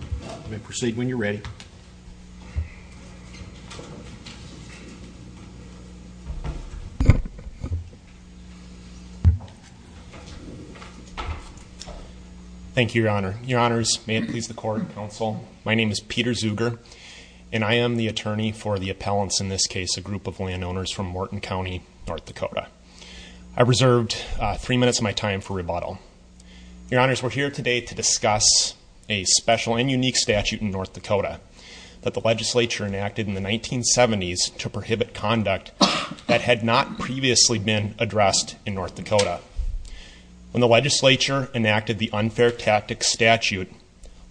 You may proceed when you're ready. Thank you, Your Honor. Your Honors, may it please the court and counsel, my name is Peter Zuger and I am the attorney for the appellants in this case, a group of landowners from Morton County, North Dakota. I reserved three minutes of my time for rebuttal. Your Honors, we're here today to discuss a special and unique statute in North Dakota that the legislature enacted in the 1970s to prohibit conduct that had not previously been addressed in North Dakota. When the legislature enacted the unfair tactics statute,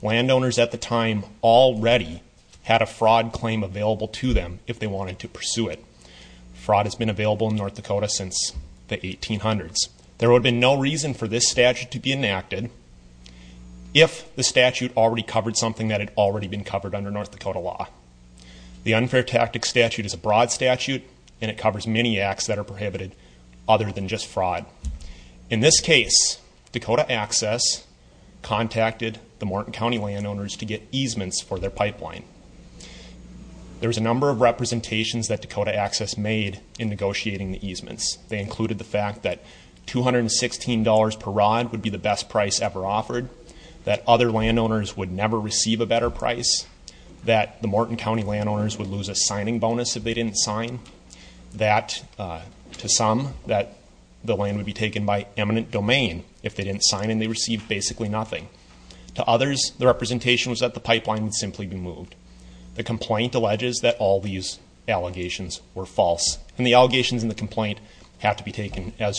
landowners at the time already had a fraud claim available to them if they wanted to pursue it. Fraud has been reason for this statute to be enacted if the statute already covered something that had already been covered under North Dakota law. The unfair tactics statute is a broad statute and it covers many acts that are prohibited other than just fraud. In this case, Dakota Access contacted the Morton County landowners to get easements for their pipeline. There was a number of representations that Dakota Access made in negotiating the easements. They included the fact that $216 per rod would be the best price ever offered, that other landowners would never receive a better price, that the Morton County landowners would lose a signing bonus if they didn't sign, that, to some, that the land would be taken by eminent domain if they didn't sign and they received basically nothing. To others, the representation was that the pipeline would simply be moved. The complaint alleges that all these allegations were false and the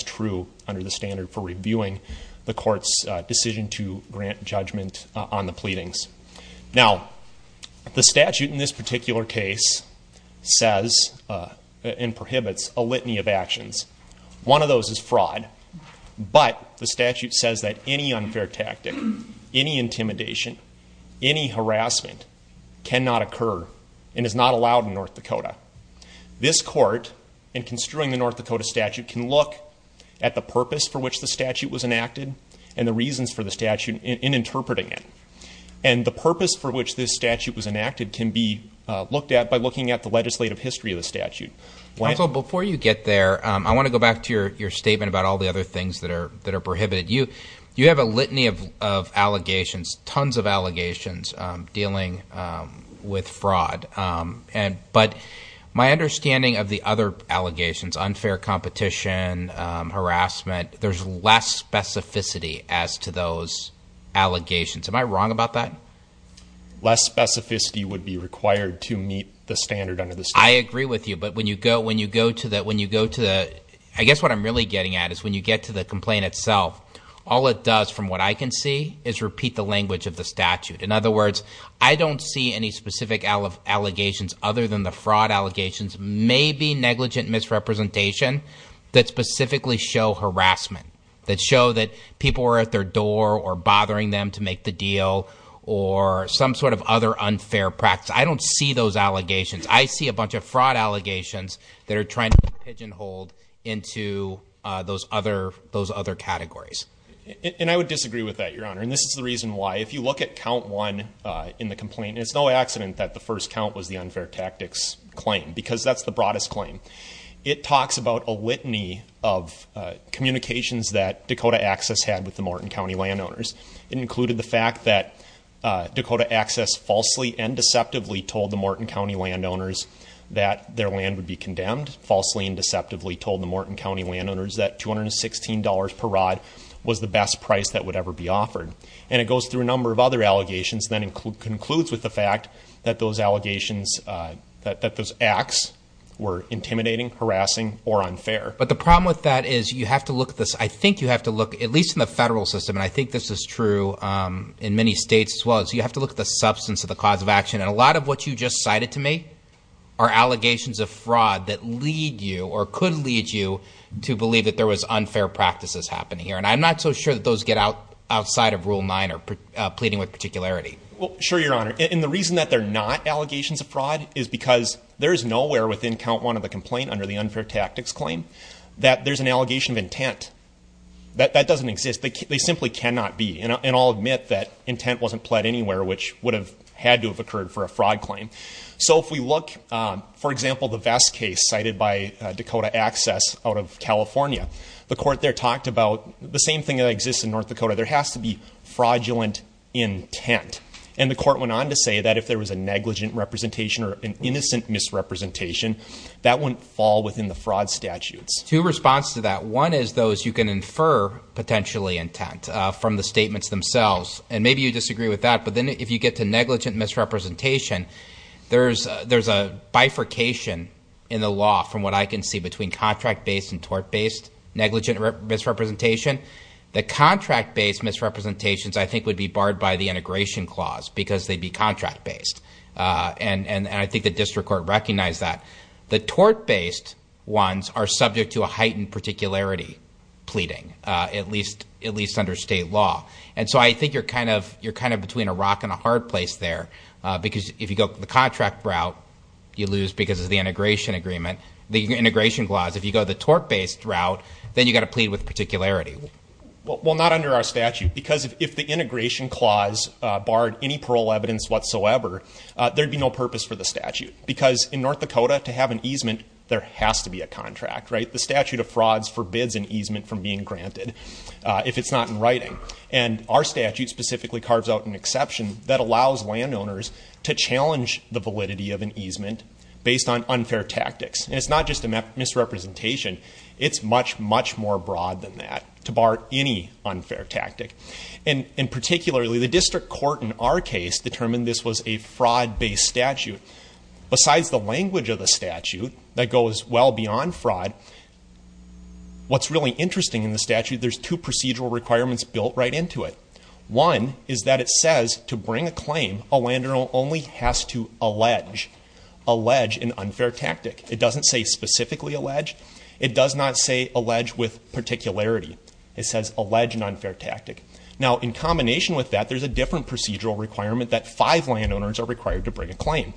true under the standard for reviewing the court's decision to grant judgment on the pleadings. Now, the statute in this particular case says and prohibits a litany of actions. One of those is fraud, but the statute says that any unfair tactic, any intimidation, any harassment cannot occur and is not allowed in North Dakota statute can look at the purpose for which the statute was enacted and the reasons for the statute in interpreting it and the purpose for which this statute was enacted can be looked at by looking at the legislative history of the statute. Council, before you get there, I want to go back to your your statement about all the other things that are that are prohibited. You you have a litany of allegations, tons of allegations, dealing with fraud and but my understanding of the other allegations, unfair competition, harassment, there's less specificity as to those allegations. Am I wrong about that? Less specificity would be required to meet the standard under the statute. I agree with you, but when you go when you go to that when you go to the I guess what I'm really getting at is when you get to the complaint itself, all it does from what I can see is repeat the language of the statute. In other words, I don't see any specific allegations other than the fraud allegations, maybe negligent misrepresentation that specifically show harassment, that show that people were at their door or bothering them to make the deal or some sort of other unfair practice. I don't see those allegations. I see a bunch of fraud allegations that are trying to pigeonhole into those other those other categories. And I would disagree with that, your honor, and this is the reason why if you look at count one in the complaint, it's no accident that the first count was the unfair tactics claim because that's the broadest claim. It talks about a litany of communications that Dakota Access had with the Morton County landowners. It included the fact that Dakota Access falsely and deceptively told the Morton County landowners that their land would be condemned, falsely and deceptively told the Morton County landowners that $216 per rod was the best price that includes with the fact that those allegations that those acts were intimidating, harassing or unfair. But the problem with that is you have to look at this. I think you have to look at least in the federal system and I think this is true in many states as well as you have to look at the substance of the cause of action and a lot of what you just cited to me are allegations of fraud that lead you or could lead you to believe that there was unfair practices happening here. And I'm not so sure that those get out outside of rule 9 or pleading with particularity. Well sure your honor and the reason that they're not allegations of fraud is because there is nowhere within count one of the complaint under the unfair tactics claim that there's an allegation of intent that that doesn't exist. They simply cannot be and I'll admit that intent wasn't pled anywhere which would have had to have occurred for a fraud claim. So if we look for example the Vest case cited by Dakota Access out of California. The court there talked about the same thing that exists in North Dakota. There has to be fraudulent intent and the court went on to say that if there was a negligent representation or an innocent misrepresentation that wouldn't fall within the fraud statutes. Two response to that one is those you can infer potentially intent from the statements themselves and maybe you disagree with that but then if you get to negligent misrepresentation there's there's a bifurcation in the law from what I can see between contract-based and tort based negligent misrepresentation. The contract-based misrepresentations I think would be barred by the integration clause because they'd be contract-based and and I think the district court recognized that. The tort-based ones are subject to a heightened particularity pleading at least at least under state law and so I think you're kind of you're kind of between a rock and a hard place there because if you go the contract route you lose because of the integration agreement the integration clause if you go the tort-based route then you got to plead with particularity. Well not under our statute because if the integration clause barred any parole evidence whatsoever there'd be no purpose for the statute because in North Dakota to have an easement there has to be a contract right the statute of frauds forbids an easement from being granted if it's not in writing and our statute specifically carves out an exception that allows landowners to challenge the validity of an easement based on unfair tactics and it's not just a misrepresentation it's much much more broad than that to bar any unfair tactic and in particularly the district court in our case determined this was a fraud based statute besides the language of the statute that goes well beyond fraud what's really interesting in the statute there's two procedural requirements built right into it one is that it says to bring a claim a landowner only has to allege allege an unfair tactic it doesn't say specifically allege it does not say allege with particularity it says allege an unfair tactic now in combination with that there's a different procedural requirement that five landowners are required to bring a claim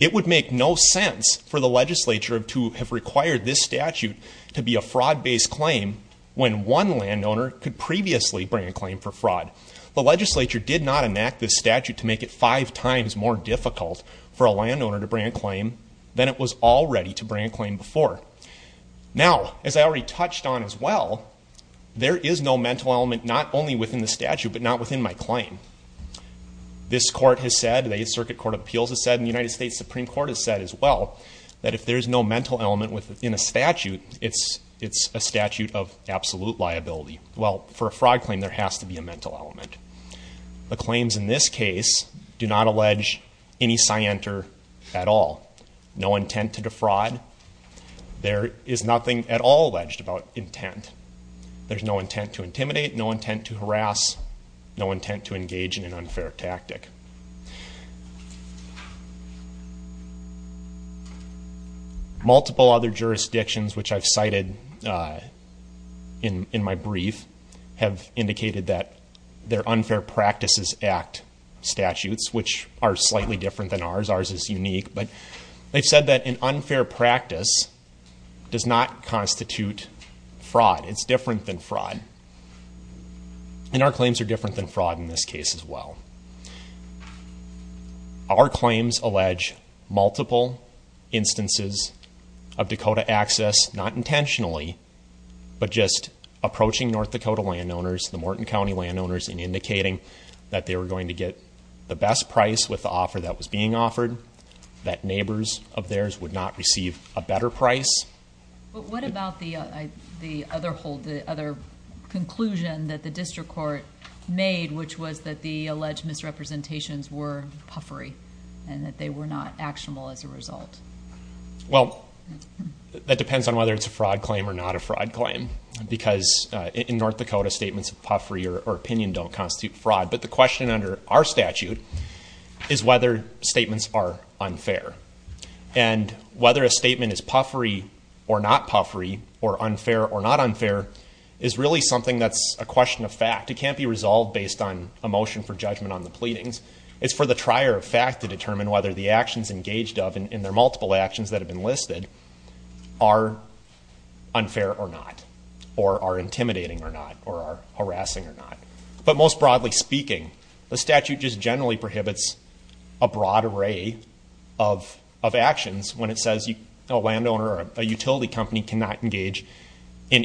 it would make no sense for the legislature to have required this statute to be a fraud based claim when one landowner could previously bring a claim for fraud the legislature did not enact this statute to make it five times more difficult for a landowner to bring a claim than it was already to bring a claim before now as I already touched on as well there is no mental element not only within the statute but not within my claim this court has said the Circuit Court of Appeals has said in the United States Supreme Court has said as well that if there is no mental element within a fraud claim there has to be a mental element the claims in this case do not allege any scienter at all no intent to defraud there is nothing at all alleged about intent there's no intent to intimidate no intent to harass no intent to engage in an unfair tactic multiple other jurisdictions which I've cited in in my brief have indicated that their unfair practices act statutes which are slightly different than ours ours is unique but they've said that an unfair practice does not constitute fraud it's different than fraud and our claims are different than fraud in this well our claims allege multiple instances of Dakota access not intentionally but just approaching North Dakota landowners the Morton County landowners and indicating that they were going to get the best price with the offer that was being offered that neighbors of theirs would not receive a better price what about the other hold the other conclusion that the alleged misrepresentations were puffery and that they were not actionable as a result well that depends on whether it's a fraud claim or not a fraud claim because in North Dakota statements of puffery or opinion don't constitute fraud but the question under our statute is whether statements are unfair and whether a statement is puffery or not puffery or unfair or not unfair is really something that's a question of fact it can't be resolved based on emotion for judgment on the pleadings it's for the trier of fact to determine whether the actions engaged of in their multiple actions that have been listed are unfair or not or are intimidating or not or are harassing or not but most broadly speaking the statute just generally prohibits a broad array of of actions when it says you know landowner or a utility company cannot engage in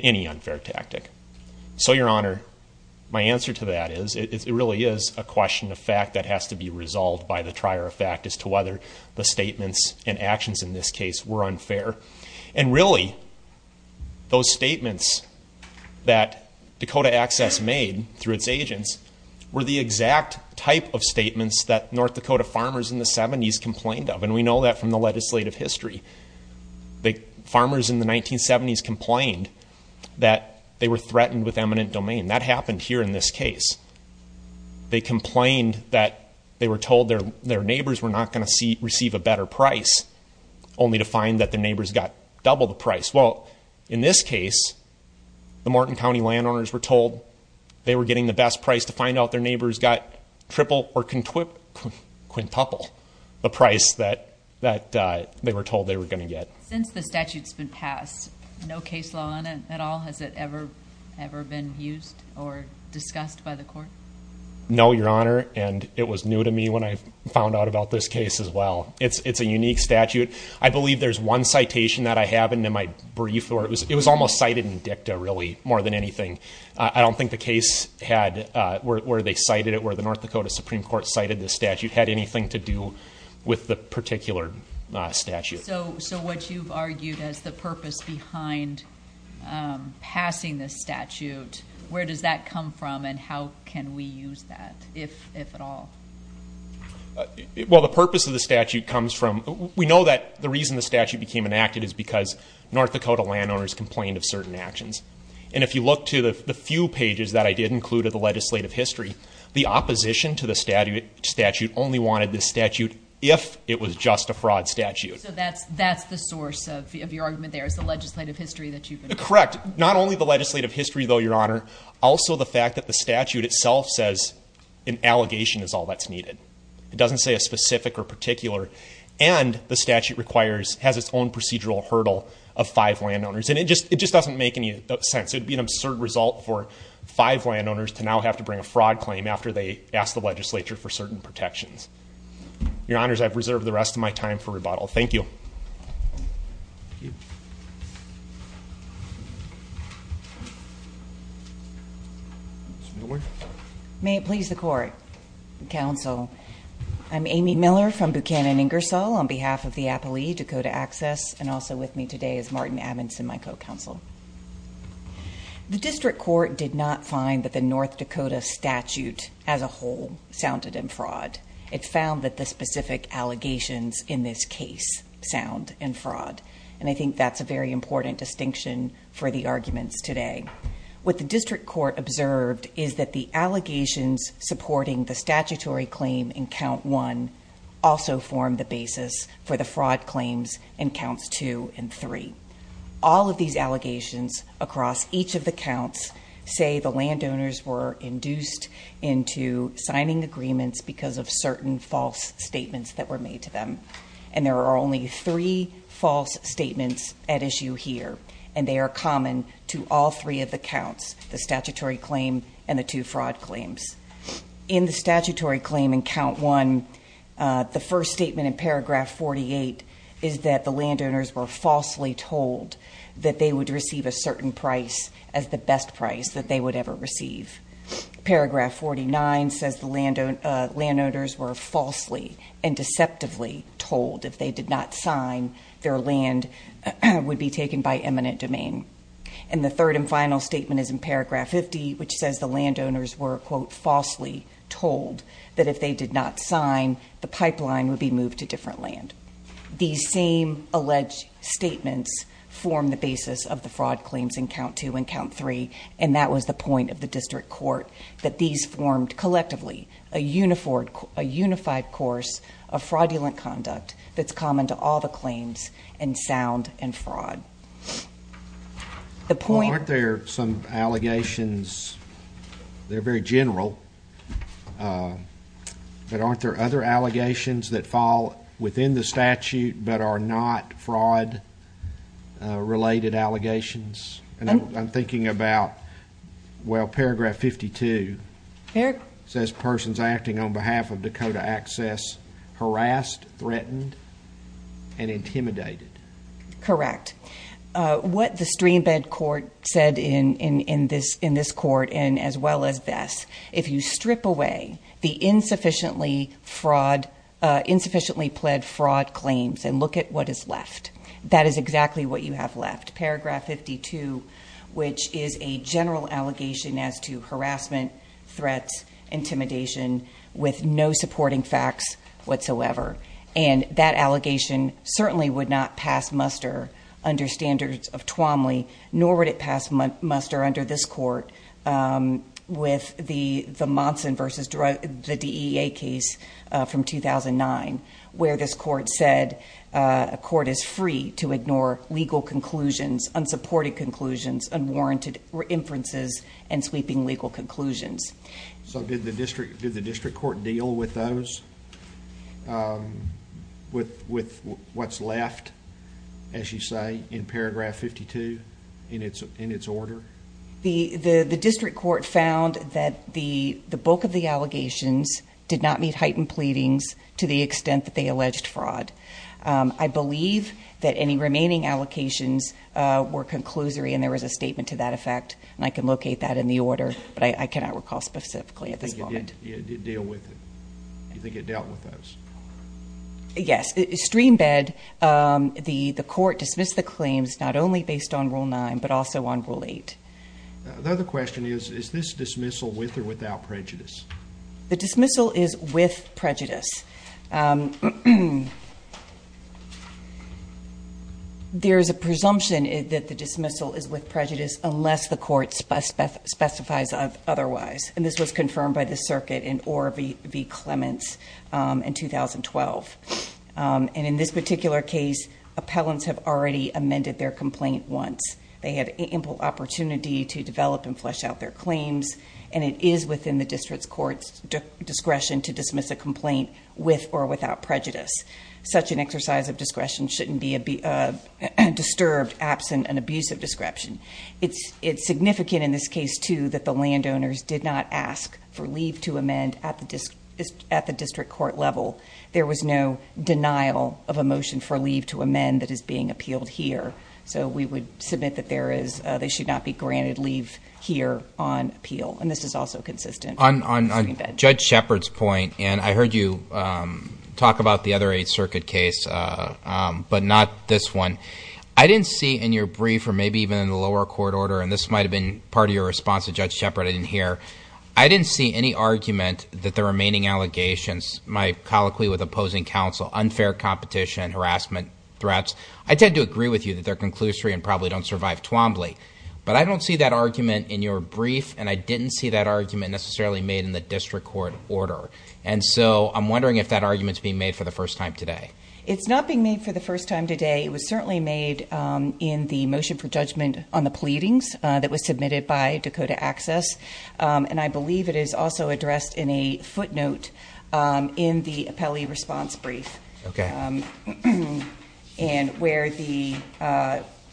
really is a question of fact that has to be resolved by the trier of fact as to whether the statements and actions in this case were unfair and really those statements that Dakota access made through its agents were the exact type of statements that North Dakota farmers in the 70s complained of and we know that from the legislative history the farmers in the 1970s complained that they were threatened with eminent domain that happened here in this case they complained that they were told their their neighbors were not going to see receive a better price only to find that the neighbors got double the price well in this case the Morton County landowners were told they were getting the best price to find out their neighbors got triple or can twit quintuple the price that that they were told they were going to get since the statutes been passed no case law on it at all has it ever ever been used or discussed by the court no your honor and it was new to me when I found out about this case as well it's it's a unique statute I believe there's one citation that I have and in my brief or it was it was almost cited in dicta really more than anything I don't think the case had where they cited it where the North Dakota Supreme Court cited this statute had anything to do with the particular statute so so what you've argued as the purpose behind passing this statute where does that come from and how can we use that if at all well the purpose of the statute comes from we know that the reason the statute became enacted is because North Dakota landowners complained of certain actions and if you look to the few pages that I did include of the legislative history the opposition to the statute statute only wanted this statute if it was just a fraud statute that's that's the source of your argument there is the legislative history that you correct not only the legislative history though your honor also the fact that the statute itself says an allegation is all that's needed it doesn't say a specific or particular and the statute requires has its own procedural hurdle of five landowners and it just it just doesn't make any sense it'd be an absurd result for five landowners to now have to bring a fraud claim after they asked the legislature for certain protections your reserve the rest of my time for rebuttal thank you may it please the court counsel I'm Amy Miller from Buchanan Ingersoll on behalf of the Appley Dakota access and also with me today is Martin Adamson my co counsel the district court did not find that the North Dakota statute as a whole sounded in fraud it found that the specific allegations in this case sound and fraud and I think that's a very important distinction for the arguments today with the district court observed is that the allegations supporting the statutory claim in count one also form the basis for the fraud claims and counts two and three all of these allegations across each of the counts say the landowners were induced into signing agreements because of certain false statements that were made to them and there are only three false statements at issue here and they are common to all three of the counts the statutory claim and the two fraud claims in the statutory claim in count one the first statement in paragraph 48 is that the landowners were falsely told that they would receive a certain price as the best price that they would ever receive paragraph 49 says the landowners were falsely and deceptively told if they did not sign their land would be taken by eminent domain and the third and final statement is in paragraph 50 which says the landowners were quote falsely told that if they did not sign the pipeline would be moved to different land these same alleged statements form the basis of the fraud claims in count two and count three and that was the point of the district court that these formed collectively a uniformed a unified course of fraudulent conduct that's common to all the claims and sound and fraud the point there some allegations they're very general but aren't there other allegations that fall within the statute but are not fraud related allegations and I'm thinking about well paragraph 52 Eric says persons acting on behalf of Dakota access harassed threatened and intimidated correct what the streambed court said in in in this in this court and as well as this if you strip away the insufficiently fraud insufficiently pled fraud claims and look at what is left that is exactly what you have left paragraph 52 which is a general allegation as to harassment threats intimidation with no supporting facts whatsoever and that allegation certainly would not pass muster under standards of Twombly nor would it pass muster under this court with the the months in versus drug the DEA case from 2009 where this court said a court is free to ignore legal conclusions unsupported conclusions unwarranted inferences and sweeping legal conclusions so did the district did the district court deal with those with with what's left as you say in paragraph 52 in its in its order the the the district court found that the the bulk of the allegations did not meet heightened pleadings to the extent that they alleged fraud I believe that any remaining allocations were conclusory and there was a statement to that effect I can locate that in the order but I cannot recall specifically at this the court dismissed the claims not only based on rule nine but also on the question is this dismissal with or without prejudice the dismissal is with prejudice there's a presumption that the dismissal is with prejudice unless the court specifies otherwise and this was confirmed by the circuit in or be be in 2012 and in this particular case appellants have already amended their complaint once they had ample opportunity to develop and flesh out their claims and it is within the district's courts discretion to dismiss a complaint with or without prejudice such an exercise of discretion shouldn't be a disturbed absent an abusive description it's it's significant in this case too that the landowners did not ask for leave to amend at the district court level there was no denial of a motion for leave to amend that is being appealed here so we would submit that there is they should not be granted leave here on appeal and this is also consistent on judge Shepard's point and I heard you talk about the other eight circuit case but not this one I didn't see in your brief or maybe even in the lower court order and this might have been part of your response to judge Shepard I didn't hear I didn't see any argument that the remaining allegations my colloquy with opposing counsel unfair competition harassment threats I tend to agree with you that they're conclusory and probably don't survive Twombly but I don't see that argument in your brief and I didn't see that argument necessarily made in the district court order and so I'm wondering if that arguments being made for the first time today it's not being made for the first time today it was certainly made in the motion for judgment on the pleadings that was also addressed in a footnote in the appellee response brief okay and where the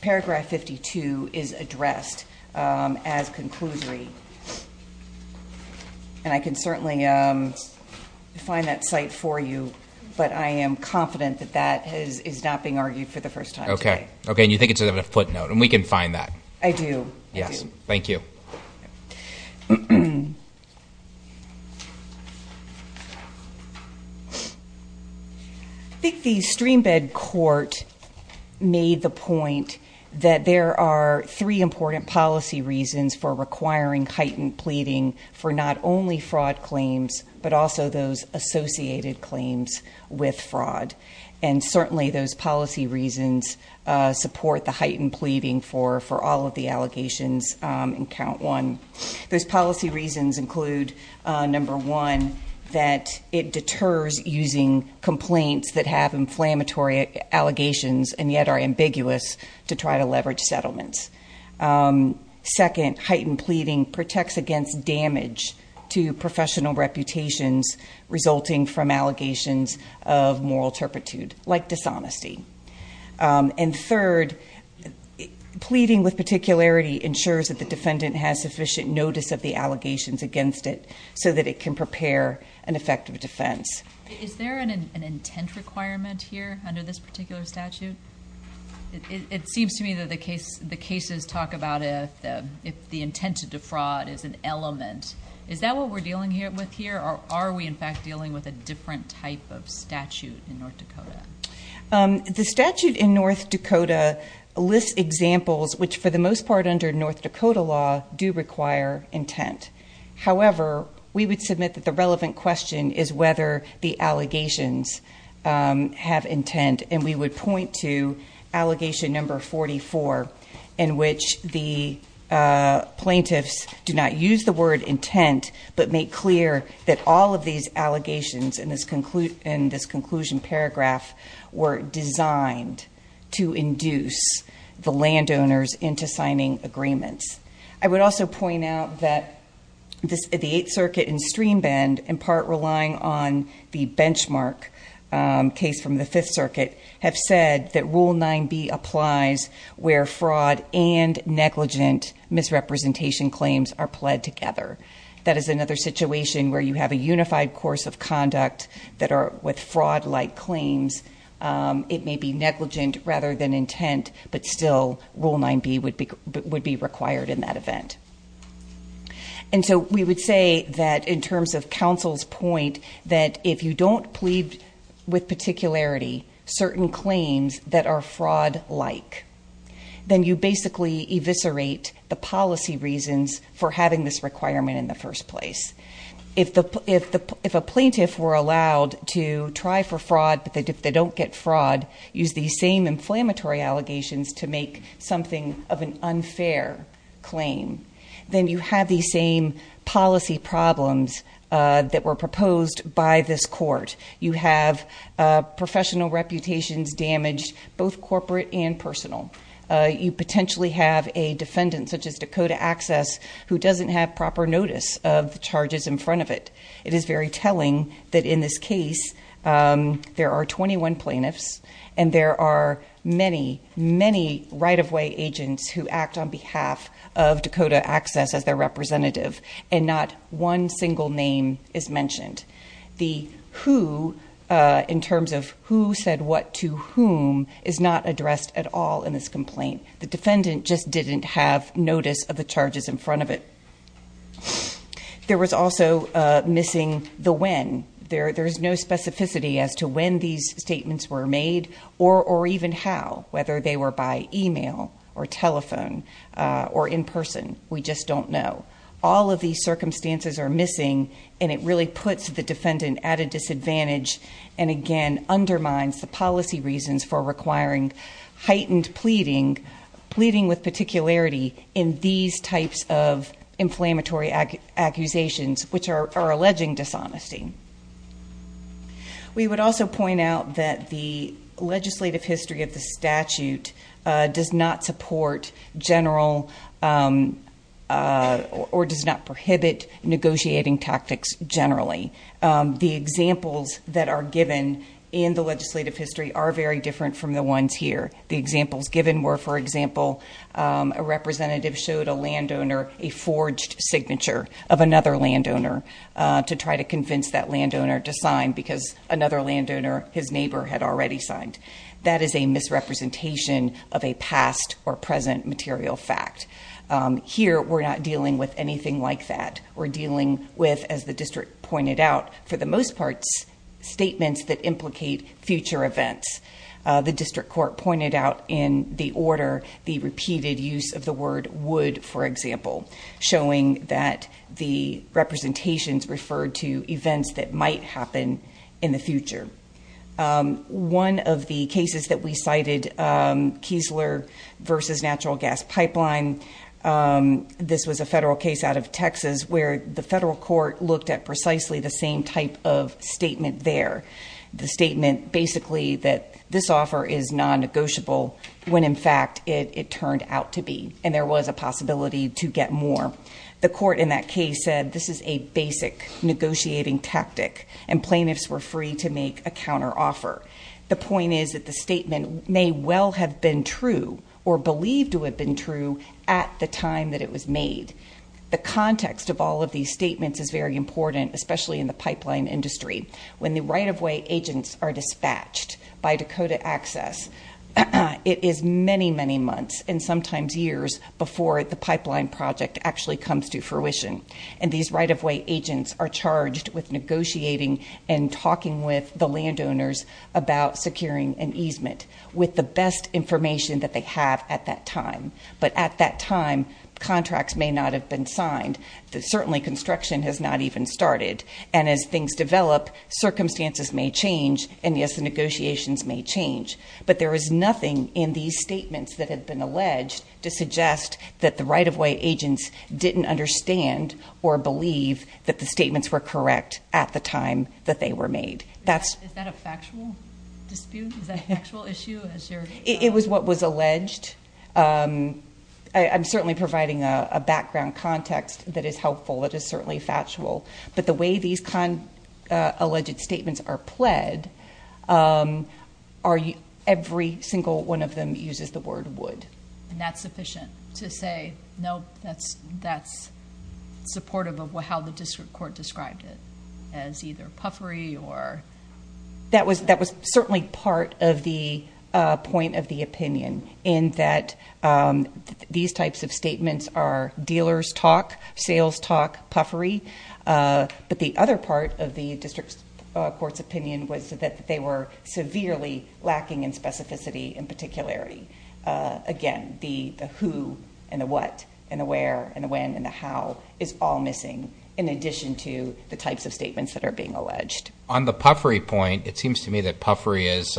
paragraph 52 is addressed as conclusory and I can certainly find that site for you but I am confident that that is is not being argued for the first time okay okay you think it's a footnote and we can find that I do yes thank you I think the streambed court made the point that there are three important policy reasons for requiring heightened pleading for not only fraud claims but also those associated claims with fraud and certainly those policy reasons support the heightened pleading for for all of the allegations in count one those policy reasons include number one that it deters using complaints that have inflammatory allegations and yet are ambiguous to try to leverage settlements second heightened pleading protects against damage to professional reputations resulting from allegations of moral turpitude like dishonesty and third pleading with particularity ensures that the defendant has sufficient notice of the allegations against it so that it can prepare an effective defense requirement here under this particular statute it seems to me that the case the cases talk about it the intent to defraud is an element is that what we're dealing here with here or are we in fact dealing with a different type of statute in North Dakota the statute in North Dakota list examples which for the most part under North Dakota law do require intent however we would submit that the relevant question is whether the allegations have intent and we would point to allegation number 44 in which the plaintiffs do not use the word intent but make clear that all of these allegations in this conclusion paragraph were designed to induce the landowners into signing agreements I would also point out that the 8th circuit and stream bend in part relying on the benchmark case from the 5th have said that rule 9b applies where fraud and negligent misrepresentation claims are pled together that is another situation where you have a unified course of conduct that are with fraud like claims it may be negligent rather than intent but still rule 9b would be would be required in that event and so we would say that in terms of counsel's point that if you don't plead with particularity certain claims that are fraud like then you basically eviscerate the policy reasons for having this requirement in the first place if the if the if a plaintiff were allowed to try for fraud but they don't get fraud use these same inflammatory allegations to make something of an unfair claim then you have these same policy problems that were proposed by this court you have professional reputations damaged both corporate and personal you potentially have a defendant such as Dakota access who doesn't have proper notice of charges in front of it it is very telling that in this case there are 21 plaintiffs and there are many many right-of-way agents who act on behalf of Dakota access as their representative and not one single name is mentioned the who in terms of who said what to whom is not addressed at all in this complaint the defendant just didn't have notice of the charges in front of it there was also missing the when there there's no specificity as to when these statements were made or or even how whether they were by email or telephone or in person we just don't know all of these circumstances are missing and it disadvantage and again undermines the policy reasons for requiring heightened pleading pleading with particularity in these types of inflammatory accusations which are alleging dishonesty we would also point out that the legislative history of the statute does not support general or does not prohibit negotiating tactics generally the examples that are given in the legislative history are very different from the ones here the examples given were for example a representative showed a landowner a forged signature of another landowner to try to convince that landowner to sign because another landowner his neighbor had already signed that is a misrepresentation of a past or present material fact here we're not dealing with anything like that or we're not dealing with as the district pointed out for the most parts statements that implicate future events the district court pointed out in the order the repeated use of the word would for example showing that the representations referred to events that might happen in the future one of the cases that we cited Kiesler versus natural gas pipeline this was a federal case out of Texas where the federal court looked at precisely the same type of statement there the statement basically that this offer is non-negotiable when in fact it turned out to be and there was a possibility to get more the court in that case said this is a basic negotiating tactic and plaintiffs were free to make a counter offer the point is that the statement may well have been true or believed to have been true at the time that it was made the context of all of these statements is very important especially in the pipeline industry when the right-of-way agents are dispatched by Dakota Access it is many many months and sometimes years before the pipeline project actually comes to fruition and these right-of-way agents are charged with negotiating and talking with the landowners about securing an easement with the best information that they have at that time but at that time contracts may not have been signed that certainly construction has not even started and as things develop circumstances may change and yes the negotiations may change but there is nothing in these statements that have been alleged to suggest that the right-of-way agents didn't understand or believe that the statements were correct at the time that they were made that's it was what was alleged I'm certainly providing a background context that is helpful it is certainly factual but the way these con alleged statements are pled are you every single one of them uses the word would and that's sufficient to say no that's that's supportive of how the district court described it as either puffery or that was that was certainly part of the point of the opinion in that these types of statements are dealers talk sales talk puffery but the other part of the district court's opinion was that they were severely lacking in specificity and particularity again the who and what and the types of statements that are being alleged on the puffery point it seems to me that puffery is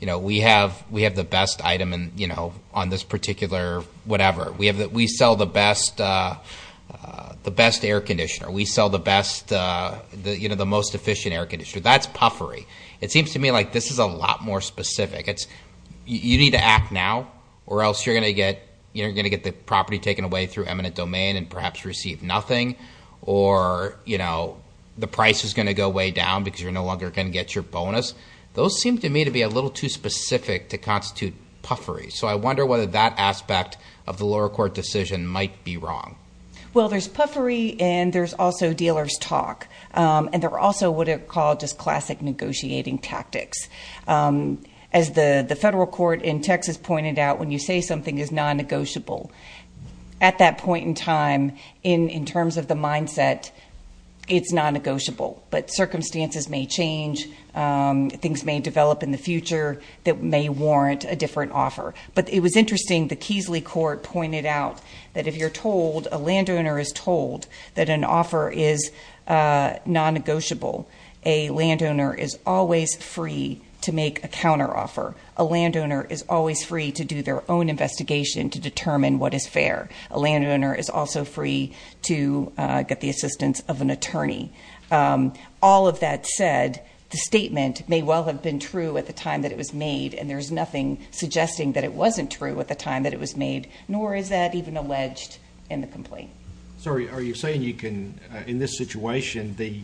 you know we have we have the best item and you know on this particular whatever we have that we sell the best the best air conditioner we sell the best you know the most efficient air conditioner that's puffery it seems to me like this is a lot more specific it's you need to act now or else you're gonna get you're gonna get the property taken away through eminent domain and perhaps receive nothing or you know the price is going to go way down because you're no longer can get your bonus those seem to me to be a little too specific to constitute puffery so I wonder whether that aspect of the lower court decision might be wrong well there's puffery and there's also dealers talk and they're also what it called just classic negotiating tactics as the the federal court in Texas pointed out when you say is non-negotiable at that point in time in in terms of the mindset it's non-negotiable but circumstances may change things may develop in the future that may warrant a different offer but it was interesting the Keesley court pointed out that if you're told a landowner is told that an offer is non-negotiable a landowner is always free to make a counter offer a landowner is always free to do their own investigation to determine what is fair a landowner is also free to get the assistance of an attorney all of that said the statement may well have been true at the time that it was made and there's nothing suggesting that it wasn't true at the time that it was made nor is that even alleged in the complaint sorry are you saying you can in this situation the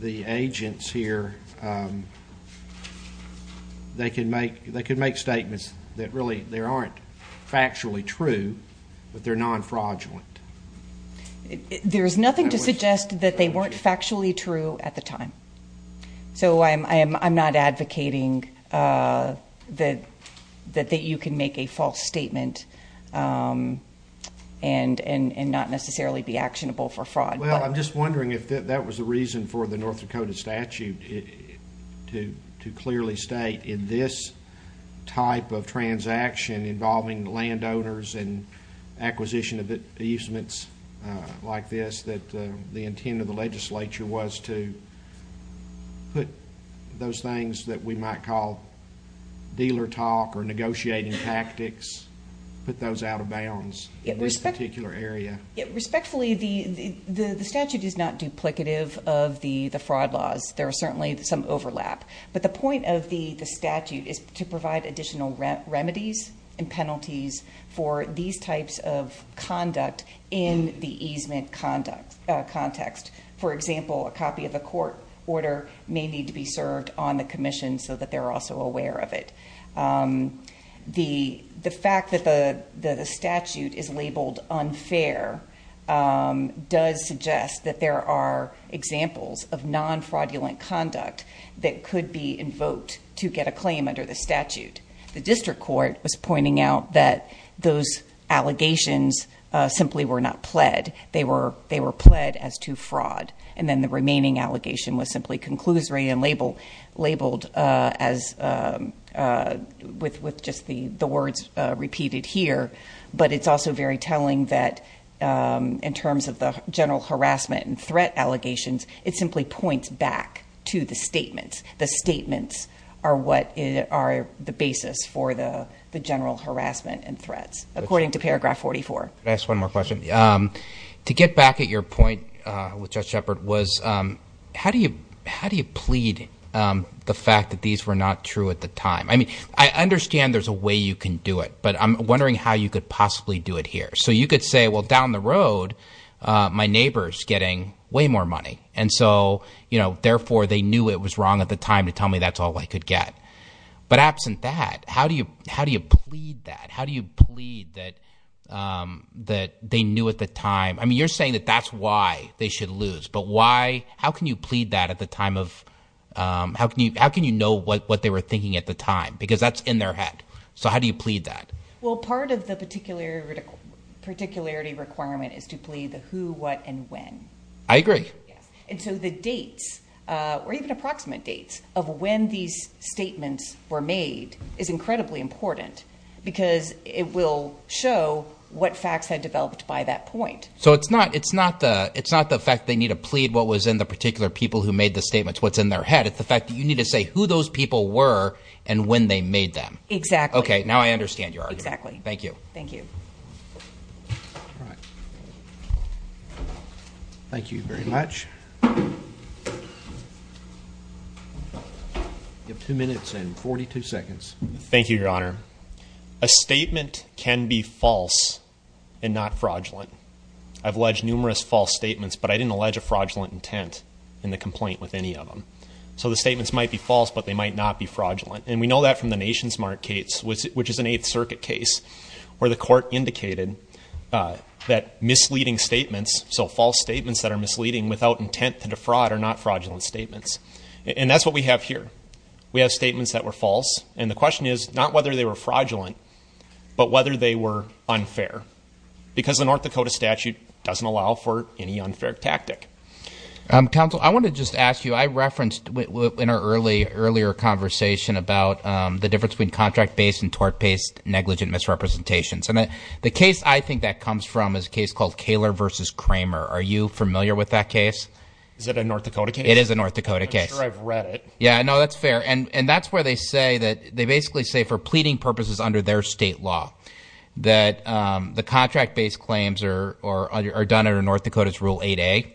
the agents here they can make they could make statements that really there aren't factually true but they're non-fraudulent there's nothing to suggest that they weren't factually true at the time so I'm I'm not advocating that that that you can make a false statement and and and not necessarily be actionable for fraud well I'm just wondering if that was the reason for the North Dakota statute to to clearly state in this type of transaction involving landowners and acquisition of the easements like this that the intent of the legislature was to put those things that we might call dealer talk or negotiating tactics put those out of bounds it was particular area respectfully the the the statute is not duplicative of the the fraud laws there are certainly some overlap but the point of the the statute is to provide additional remedies and penalties for these types of conduct in the easement conduct context for example a copy of a court order may need to be served on the Commission so that they're also aware of it the the fact that the the statute is fair does suggest that there are examples of non-fraudulent conduct that could be invoked to get a claim under the statute the district court was pointing out that those allegations simply were not pled they were they were pled as to fraud and then the remaining allegation was simply conclusory and label labeled as with with just the the words repeated here but it's also very telling that in terms of the general harassment and threat allegations it simply points back to the statements the statements are what it are the basis for the the general harassment and threats according to paragraph 44 that's one more question to get back at your point with just Shepard was how do you how do you plead the fact that these were not true at the time I mean I understand there's a way you can do it but I'm wondering how you could possibly do it here so you could say well down the road my neighbors getting way more money and so you know therefore they knew it was wrong at the time to tell me that's all I could get but absent that how do you how do you plead that how do you plead that that they knew at the time I mean you're saying that that's why they should lose but why how can you plead that at the time of how can you how can you know what they were thinking at the time because that's in their head so how do you plead that well part of the particular particularity requirement is to plead the who what and when I agree and so the dates or even approximate dates of when these statements were made is incredibly important because it will show what facts had developed by that point so it's not it's not the it's not the fact they need to plead what was in the particular people who made the those people were and when they made them exactly okay now I understand your exactly thank you thank you thank you very much you have two minutes and 42 seconds thank you your honor a statement can be false and not fraudulent I've alleged numerous false statements but I didn't allege a fraudulent intent in the complaint with any of them so the might not be fraudulent and we know that from the nation's markets which is an 8th Circuit case where the court indicated that misleading statements so false statements that are misleading without intent to defraud are not fraudulent statements and that's what we have here we have statements that were false and the question is not whether they were fraudulent but whether they were unfair because the North Dakota statute doesn't allow for any unfair tactic counsel I want to just ask you I referenced in our early earlier conversation about the difference between contract based and tort based negligent misrepresentations and that the case I think that comes from is a case called Kahler versus Kramer are you familiar with that case is it a North Dakota it is a North Dakota case yeah no that's fair and and that's where they say that they basically say for pleading purposes under their state law that the contract-based claims are or are done under North Dakota's rule 8a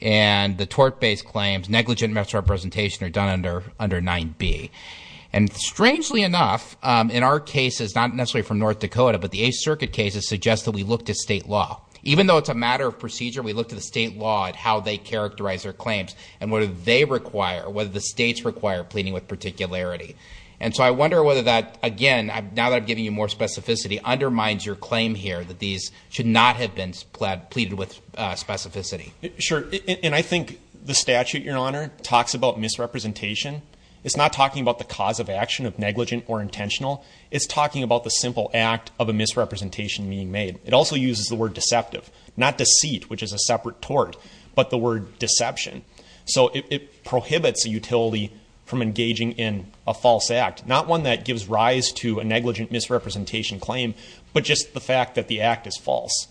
and the tort based claims negligent misrepresentation are done under under 9b and strangely enough in our case is not necessarily from North Dakota but the 8th Circuit cases suggest that we looked at state law even though it's a matter of procedure we looked at the state law at how they characterize their claims and what do they require whether the states require pleading with particularity and so I wonder whether that again I've now that I'm giving you more specificity undermines your claim here that these should not have been split pleaded with specificity sure and I think the statute your honor talks about misrepresentation it's not talking about the cause of action of negligent or intentional it's talking about the simple act of a misrepresentation being made it also uses the word deceptive not deceit which is a separate tort but the word deception so it prohibits a utility from engaging in a false act not one that gives rise to a negligent misrepresentation claim but just the fact that the act is false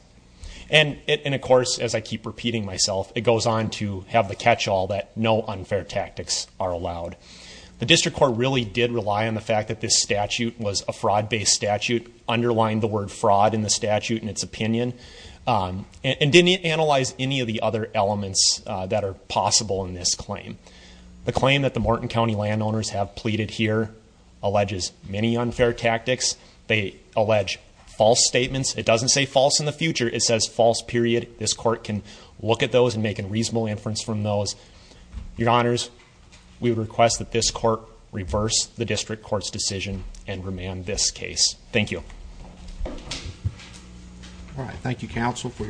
and it and of course as I keep repeating myself it goes on to have the catch-all that no unfair tactics are allowed the district court really did rely on the fact that this statute was a fraud based statute underlined the word fraud in the statute in its opinion and didn't analyze any of the other elements that are possible in this claim the claim that the Morton is many unfair tactics they allege false statements it doesn't say false in the future it says false period this court can look at those and make a reasonable inference from those your honors we request that this court reverse the district courts decision and remand this case thank you all right thank you counsel for